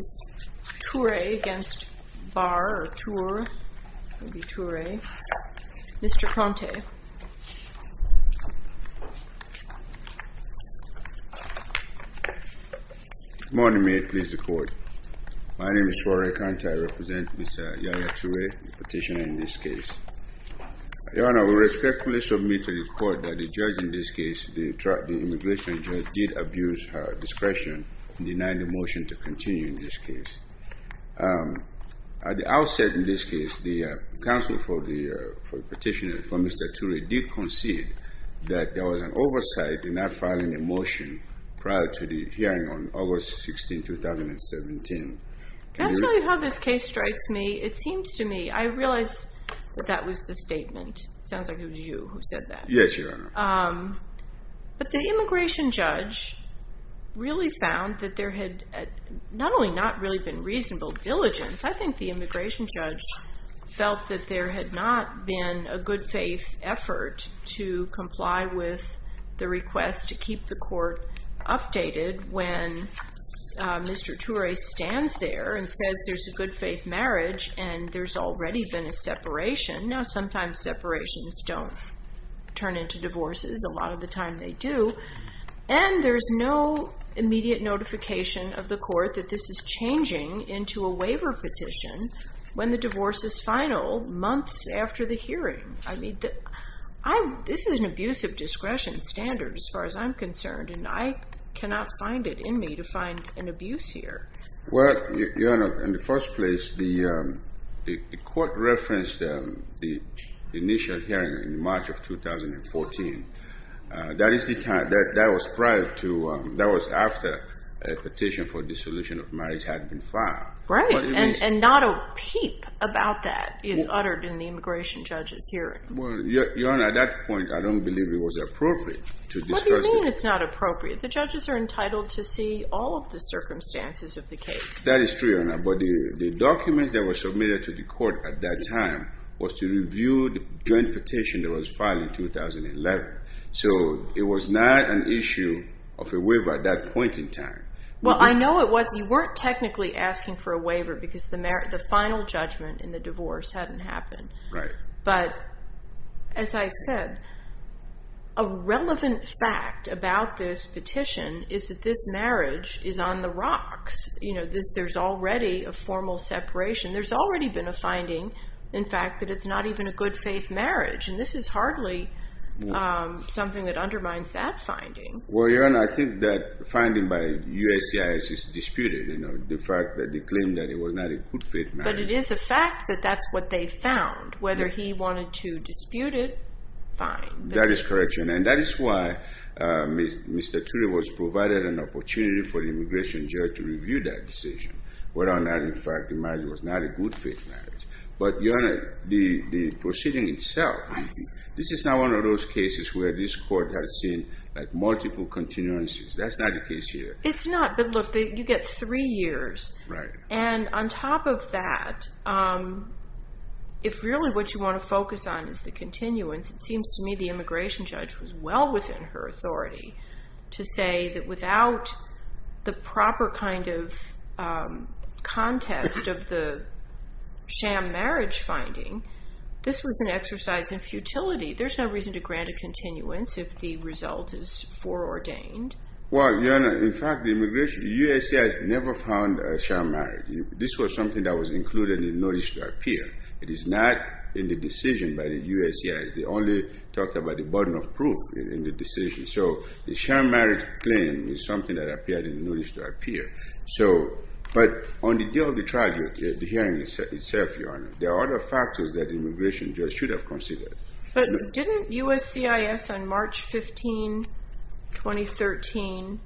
Mr. Toure v. Barr, or Tour, maybe Toure. Mr. Conte. Good morning, ma'am. Please record. My name is Florent Conte. I represent Ms. Yaya Toure, the petitioner in this case. Your Honor, we respectfully submit to the court that the judge in this case, the immigration judge, did abuse her discretion in denying the motion to continue in this case. At the outset in this case, the counsel for the petitioner, for Mr. Toure, did concede that there was an oversight in not filing a motion prior to the hearing on August 16, 2017. That's really how this case strikes me. It seems to me, I realize that that was the statement. It sounds like it was you who said that. Yes, Your Honor. But the immigration judge really found that there had not only not really been reasonable diligence, I think the immigration judge felt that there had not been a good faith effort to comply with the request to keep the court updated when Mr. Toure stands there and says there's a good faith marriage and there's already been a separation. Now, sometimes separations don't turn into divorces. A lot of the time they do. And there's no immediate notification of the court that this is changing into a waiver petition when the divorce is final months after the hearing. This is an abuse of discretion standard as far as I'm concerned, and I cannot find it in me to find an abuse here. Well, Your Honor, in the first place, the court referenced the initial hearing in March of 2014. That was after a petition for dissolution of marriage had been filed. Right, and not a peep about that is uttered in the immigration judge's hearing. Well, Your Honor, at that point, I don't believe it was appropriate to discuss it. What do you mean it's not appropriate? The judges are entitled to see all of the circumstances of the case. That is true, Your Honor, but the documents that were submitted to the court at that time was to review the joint petition that was filed in 2011. So it was not an issue of a waiver at that point in time. Well, I know it wasn't. You weren't technically asking for a waiver because the final judgment in the divorce hadn't happened. Right. But as I said, a relevant fact about this petition is that this marriage is on the rocks. You know, there's already a formal separation. There's already been a finding, in fact, that it's not even a good faith marriage. And this is hardly something that undermines that finding. Well, Your Honor, I think that finding by USCIS is disputed, you know, the fact that they claim that it was not a good faith marriage. But it is a fact that that's what they found. Whether he wanted to dispute it, fine. That is correct, Your Honor, and that is why Mr. Turley was provided an opportunity for the immigration judge to review that decision, whether or not, in fact, the marriage was not a good faith marriage. But, Your Honor, the proceeding itself, this is not one of those cases where this court has seen, like, multiple continuances. That's not the case here. It's not. But look, you get three years. Right. And on top of that, if really what you want to focus on is the continuance, it seems to me the immigration judge was well within her authority to say that without the proper kind of contest of the sham marriage finding, this was an exercise in futility. There's no reason to grant a continuance if the result is foreordained. Well, Your Honor, in fact, the immigration, USCIS never found a sham marriage. This was something that was included in the notice to appear. It is not in the decision by the USCIS. They only talked about the burden of proof in the decision. So the sham marriage claim is something that appeared in the notice to appear. So, but on the day of the trial, the hearing itself, Your Honor, there are other factors that the immigration judge should have considered. But didn't USCIS on March 15, 2013,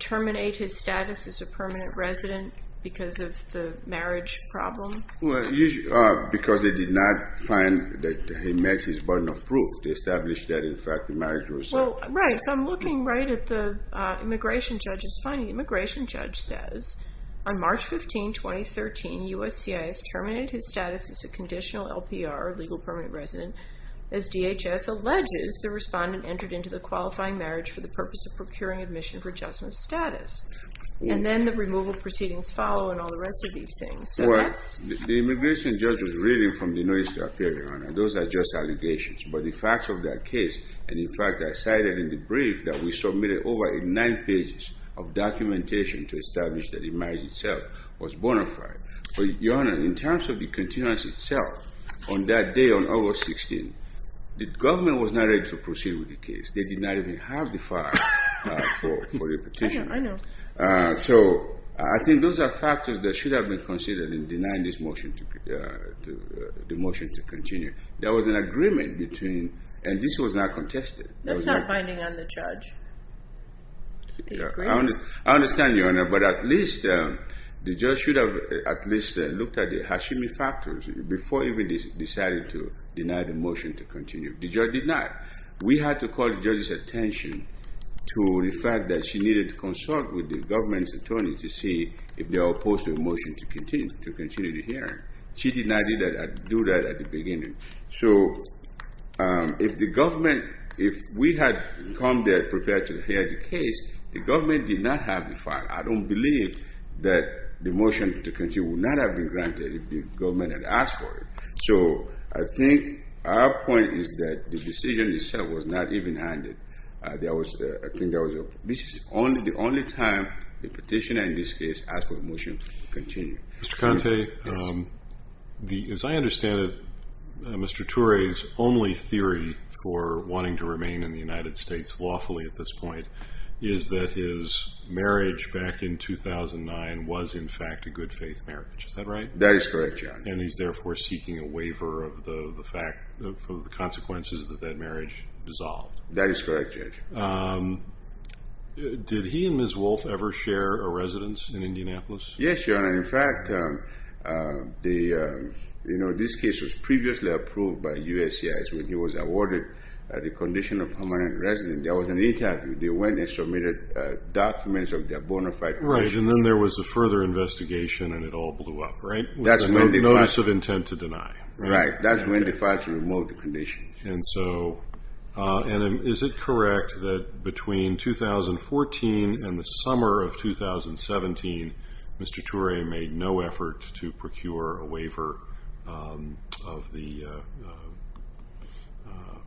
terminate his status as a permanent resident because of the marriage problem? Well, because they did not find that he met his burden of proof. They established that, in fact, the marriage result. Right, so I'm looking right at the immigration judge's finding. The immigration judge says, on March 15, 2013, USCIS terminated his status as a conditional LPR, legal permanent resident. As DHS alleges, the respondent entered into the qualifying marriage for the purpose of procuring admission for adjustment of status. And then the removal proceedings follow and all the rest of these things. The immigration judge was reading from the notice to appear, Your Honor. Those are just allegations. But the facts of that case, and in fact, I cited in the brief that we submitted over in nine pages of documentation to establish that the marriage itself was bona fide. But, Your Honor, in terms of the continuance itself, on that day, on August 16, the government was not ready to proceed with the case. They did not even have the file for the petition. I know. So I think those are factors that should have been considered in denying this motion to continue. There was an agreement between, and this was not contested. That's not binding on the judge. I understand, Your Honor, but at least the judge should have at least looked at the Hashimi factors before even deciding to deny the motion to continue. The judge did not. We had to call the judge's attention to the fact that she needed to consult with the government's attorney to see if they were opposed to the motion to continue the hearing. She did not do that at the beginning. So if the government, if we had come there prepared to hear the case, the government did not have the file. I don't believe that the motion to continue would not have been granted if the government had asked for it. So I think our point is that the decision itself was not even handed. This is the only time a petitioner in this case asked for a motion to continue. Mr. Conte, as I understand it, Mr. Toure's only theory for wanting to remain in the United States lawfully at this point is that his marriage back in 2009 was, in fact, a good faith marriage. Is that right? That is correct, Your Honor. And he's therefore seeking a waiver of the consequences that that marriage dissolved. That is correct, Judge. Did he and Ms. Wolfe ever share a residence in Indianapolis? Yes, Your Honor. In fact, this case was previously approved by USCIS when he was awarded the condition of permanent residence. There was an interview. They went and submitted documents of their bona fide connection. Right, and then there was a further investigation and it all blew up, right? That's a notice of intent to deny. Right. That's when they filed to remove the condition. And is it correct that between 2014 and the summer of 2017, Mr. Toure made no effort to procure a waiver of the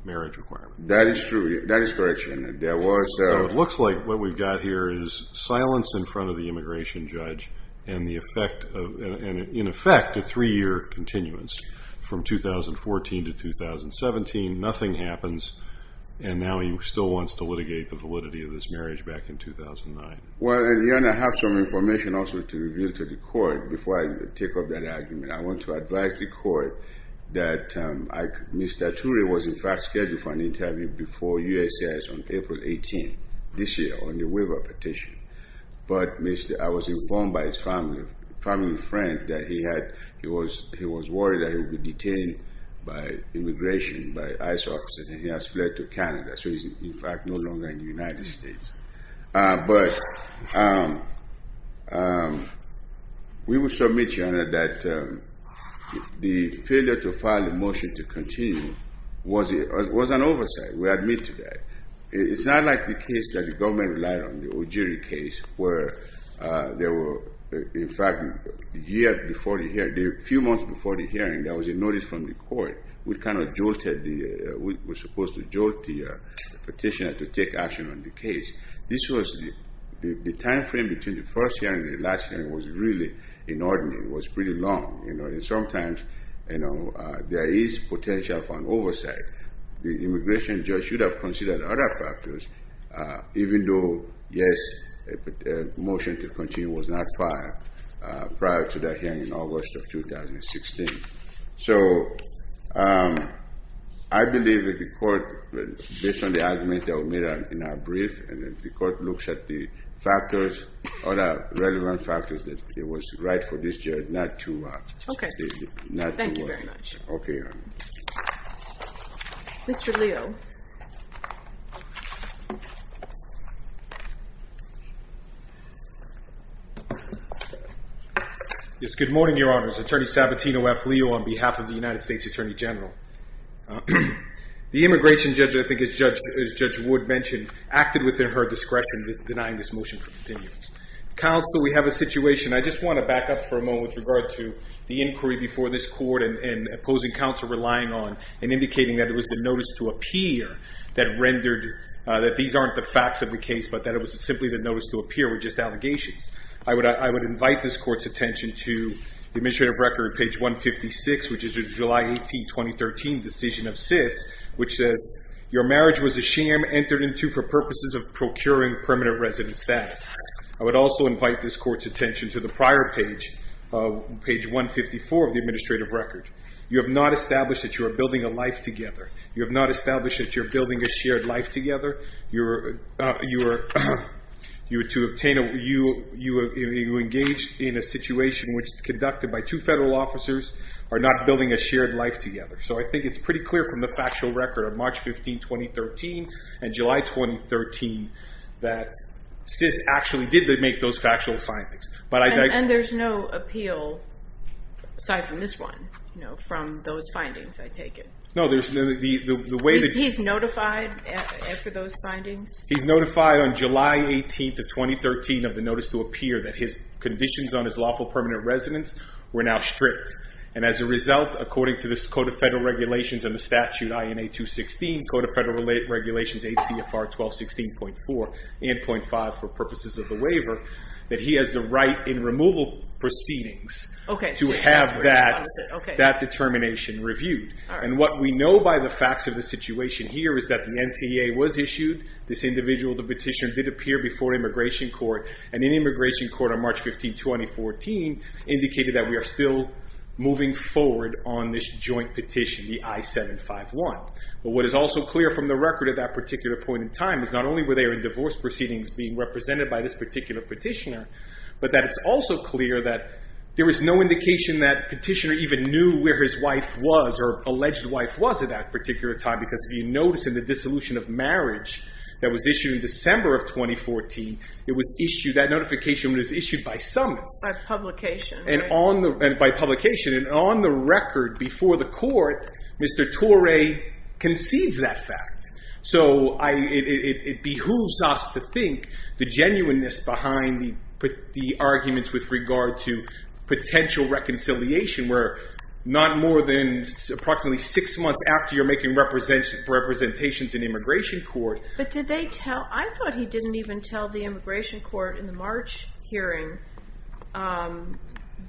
marriage requirement? That is correct, Your Honor. So it looks like what we've got here is silence in front of the immigration judge and, in effect, a three-year continuance from 2014 to 2017. Nothing happens, and now he still wants to litigate the validity of this marriage back in 2009. Well, Your Honor, I have some information also to reveal to the court before I take up that argument. I want to advise the court that Mr. Toure was, in fact, scheduled for an interview before USCIS on April 18th, this year, on the waiver petition. But I was informed by his family and friends that he was worried that he would be detained by immigration, by ICE officers, and he has fled to Canada. So he's, in fact, no longer in the United States. But we will submit, Your Honor, that the failure to file the motion to continue was an oversight. We admit to that. It's not like the case that the government relied on, the Ojiri case, where there were, in fact, a year before the hearing, a few months before the hearing, there was a notice from the court. We kind of jolted the, we were supposed to jolt the petitioner to take action on the case. This was, the time frame between the first hearing and the last hearing was really inordinate. It was pretty long, you know, and sometimes, you know, there is potential for an oversight. The immigration judge should have considered other factors, even though, yes, a motion to continue was not filed prior to that hearing in August of 2016. So I believe that the court, based on the arguments that were made in our brief, and if the court looks at the factors, other relevant factors, that it was right for this judge not to. Okay. Not to. Thank you very much. Okay, Your Honor. Mr. Leo. Yes, good morning, Your Honors. Attorney Sabatino F. Leo on behalf of the United States Attorney General. The immigration judge, I think as Judge Wood mentioned, acted within her discretion with denying this motion for continuance. Counsel, we have a situation. I just want to back up for a moment with regard to the inquiry before this court and opposing counsel relying on and indicating that it was the notice to appear that rendered that these aren't the facts of the case, but that it was simply the notice to appear were just allegations. I would invite this court's attention to the administrative record, page 156, which is a July 18, 2013 decision of SIS, which says, your marriage was a sham entered into for purposes of procuring permanent resident status. I would also invite this court's attention to the prior page, page 154 of the administrative record. You have not established that you are building a life together. You have not established that you are building a shared life together. You are engaged in a situation which conducted by two federal officers are not building a shared life together. I think it's pretty clear from the factual record of March 15, 2013 and July 2013 that SIS actually did make those factual findings. There's no appeal, aside from this one, from those findings, I take it? No. He's notified for those findings? He's notified on July 18, 2013 of the notice to appear that his conditions on his lawful permanent residence were now strict. As a result, according to this Code of Federal Regulations and the statute INA 216, Code of Federal Regulations 8 CFR 1216.4 and .5 for purposes of the waiver, that he has the right in removal proceedings to have that determination reviewed. What we know by the facts of the situation here is that the NTA was issued. This individual, the petitioner, did appear before immigration court. In immigration court on March 15, 2014, indicated that we are still moving forward on this joint petition, the I-751. What is also clear from the record at that particular point in time is not only were they in divorce proceedings being represented by this particular petitioner, but that it's also clear that there was no indication that petitioner even knew where his wife was or alleged wife was at that particular time. Because if you notice in the dissolution of marriage that was issued in December of 2014, that notification was issued by summons. By publication. By publication. And on the record before the court, Mr. Torre concedes that fact. So it behooves us to think the genuineness behind the arguments with regard to potential reconciliation. We're not more than approximately six months after you're making representations in immigration court. But did they tell, I thought he didn't even tell the immigration court in the March hearing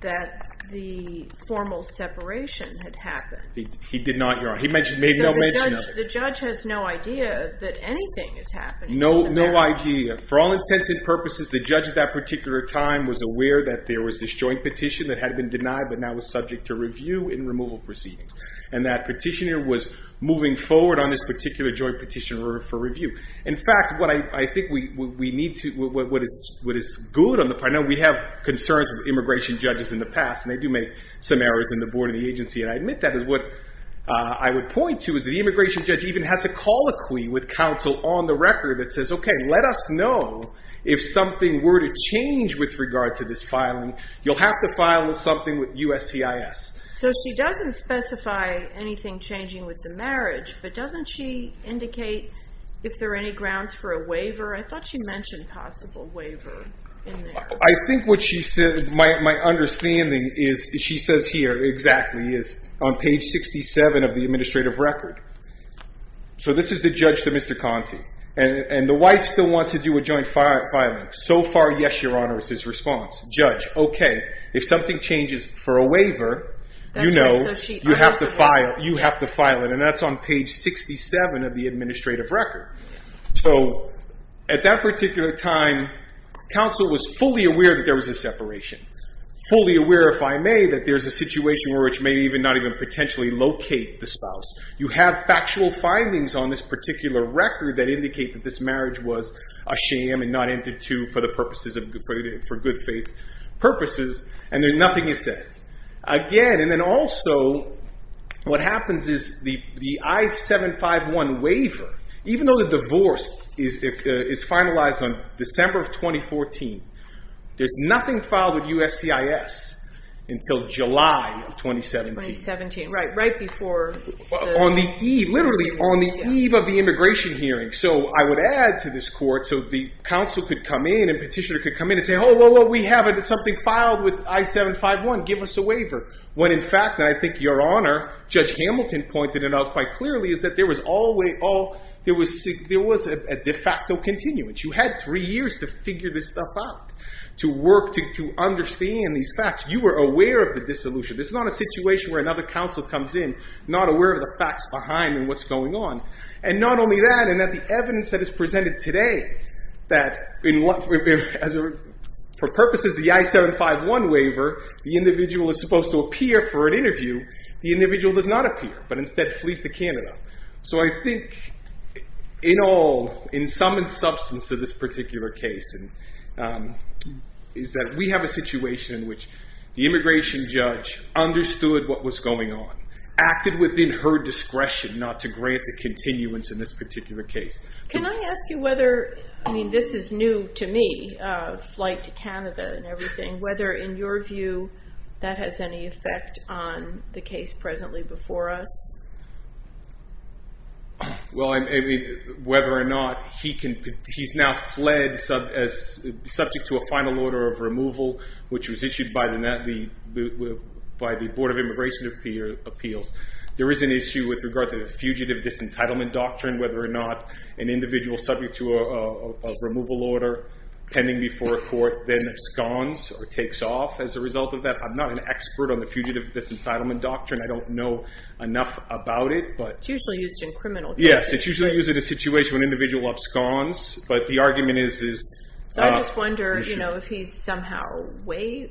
that the formal separation had happened. He did not. He made no mention of it. So the judge has no idea that anything is happening. No idea. For all intents and purposes, the judge at that particular time was aware that there was this joint petition that had been denied but now was subject to review in removal proceedings. And that petitioner was moving forward on this particular joint petition for review. In fact, what I think we need to, what is good on the part, now we have concerns with immigration judges in the past. And they do make some errors in the board of the agency. And I admit that is what I would point to is the immigration judge even has a colloquy with counsel on the record that says, okay, let us know if something were to change with regard to this filing. You'll have to file something with USCIS. So she doesn't specify anything changing with the marriage. But doesn't she indicate if there are any grounds for a waiver? I thought she mentioned possible waiver in there. I think what she said, my understanding is she says here exactly is on page 67 of the administrative record. So this is the judge to Mr. Conte. And the wife still wants to do a joint filing. So far, yes, Your Honor, it's his response. Judge, okay, if something changes for a waiver, you know, you have to file it. And that's on page 67 of the administrative record. So at that particular time, counsel was fully aware that there was a separation. Fully aware, if I may, that there's a situation where it may even not even potentially locate the spouse. You have factual findings on this particular record that indicate that this marriage was a sham and not entered to for the purposes of good faith purposes. And then nothing is said. Again, and then also, what happens is the I-751 waiver, even though the divorce is finalized on December of 2014, there's nothing filed with USCIS until July of 2017. 2017, right, right before. On the eve, literally on the eve of the immigration hearing. So I would add to this court, so the counsel could come in and petitioner could come in and say, oh, whoa, whoa, we have something filed with I-751, give us a waiver. When in fact, and I think Your Honor, Judge Hamilton pointed it out quite clearly, is that there was a de facto continuance. You had three years to figure this stuff out, to work, to understand these facts. You were aware of the dissolution. This is not a situation where another counsel comes in not aware of the facts behind and what's going on. And not only that, and that the evidence that is presented today, that for purposes of the I-751 waiver, the individual is supposed to appear for an interview. The individual does not appear, but instead flees to Canada. So I think in all, in sum and substance of this particular case, is that we have a situation in which the immigration judge understood what was going on, acted within her discretion not to grant a continuance in this particular case. Can I ask you whether, I mean, this is new to me, flight to Canada and everything, whether in your view that has any effect on the case presently before us? Well, I mean, whether or not he can, he's now fled as subject to a final order of removal, which was issued by the Board of Immigration Appeals. There is an issue with regard to the Fugitive Disentitlement Doctrine, whether or not an individual subject to a removal order pending before a court then absconds or takes off. As a result of that, I'm not an expert on the Fugitive Disentitlement Doctrine. I don't know enough about it. It's usually used in criminal cases. Yes, it's usually used in a situation when an individual absconds. So I just wonder if he's somehow away.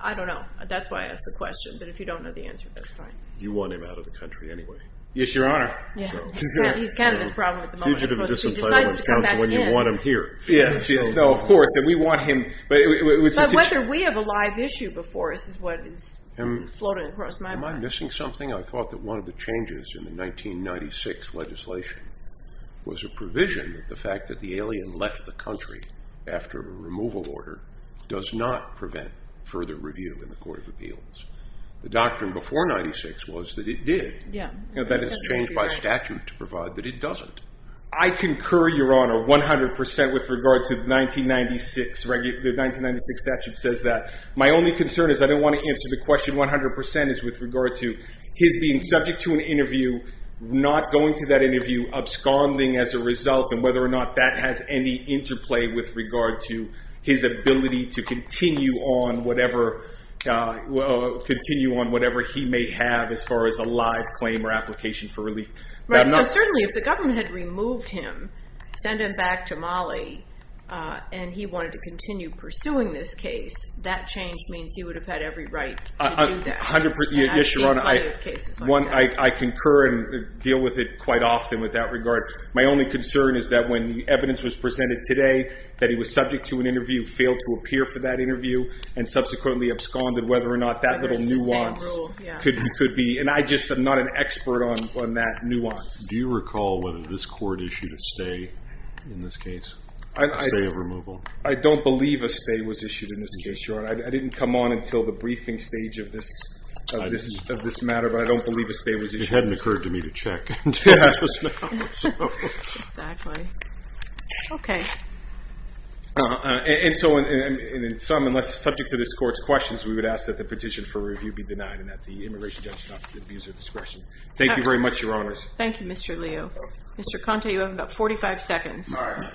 I don't know. That's why I asked the question. But if you don't know the answer, that's fine. You want him out of the country anyway. Yes, Your Honor. He's Canada's problem at the moment. He decides to come back in. Yes. No, of course. And we want him. But whether we have a live issue before us is what is floating across my mind. Am I missing something? I thought that one of the changes in the 1996 legislation was a provision that the fact that the alien left the country after a removal order does not prevent further review in the Court of Appeals. The doctrine before 1996 was that it did. Yes. That has changed by statute to provide that it doesn't. I concur, Your Honor, 100 percent with regard to the 1996 statute says that. My only concern is I don't want to answer the question 100 percent is with regard to his being subject to an interview, not going to that interview, absconding as a result, and whether or not that has any interplay with regard to his ability to continue on whatever he may have as far as a live claim or application for relief. Certainly, if the government had removed him, sent him back to Mali, and he wanted to continue pursuing this case, that change means he would have had every right to do that. Yes, Your Honor. I've seen plenty of cases like that. I concur and deal with it quite often with that regard. My only concern is that when the evidence was presented today that he was subject to an interview, failed to appear for that interview, and subsequently absconded, whether or not that little nuance could be. I'm just not an expert on that nuance. Do you recall whether this court issued a stay in this case, a stay of removal? I don't believe a stay was issued in this case, Your Honor. I didn't come on until the briefing stage of this matter, but I don't believe a stay was issued. It hadn't occurred to me to check. Exactly. Okay. And so in sum, unless it's subject to this court's questions, we would ask that the petition for review be denied and that the immigration judge not abuse her discretion. Thank you very much, Your Honors. Thank you, Mr. Leo. Mr. Conte, you have about 45 seconds. All right.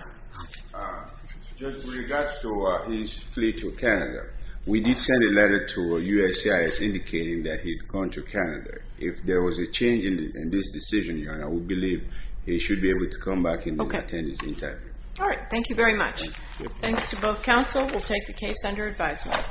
With regards to his fleet to Canada, we did send a letter to USCIS indicating that he'd come to Canada. If there was a change in this decision, Your Honor, we believe he should be able to come back and attend his interview. All right. Thank you very much. Thanks to both counsel. We'll take the case under advisement.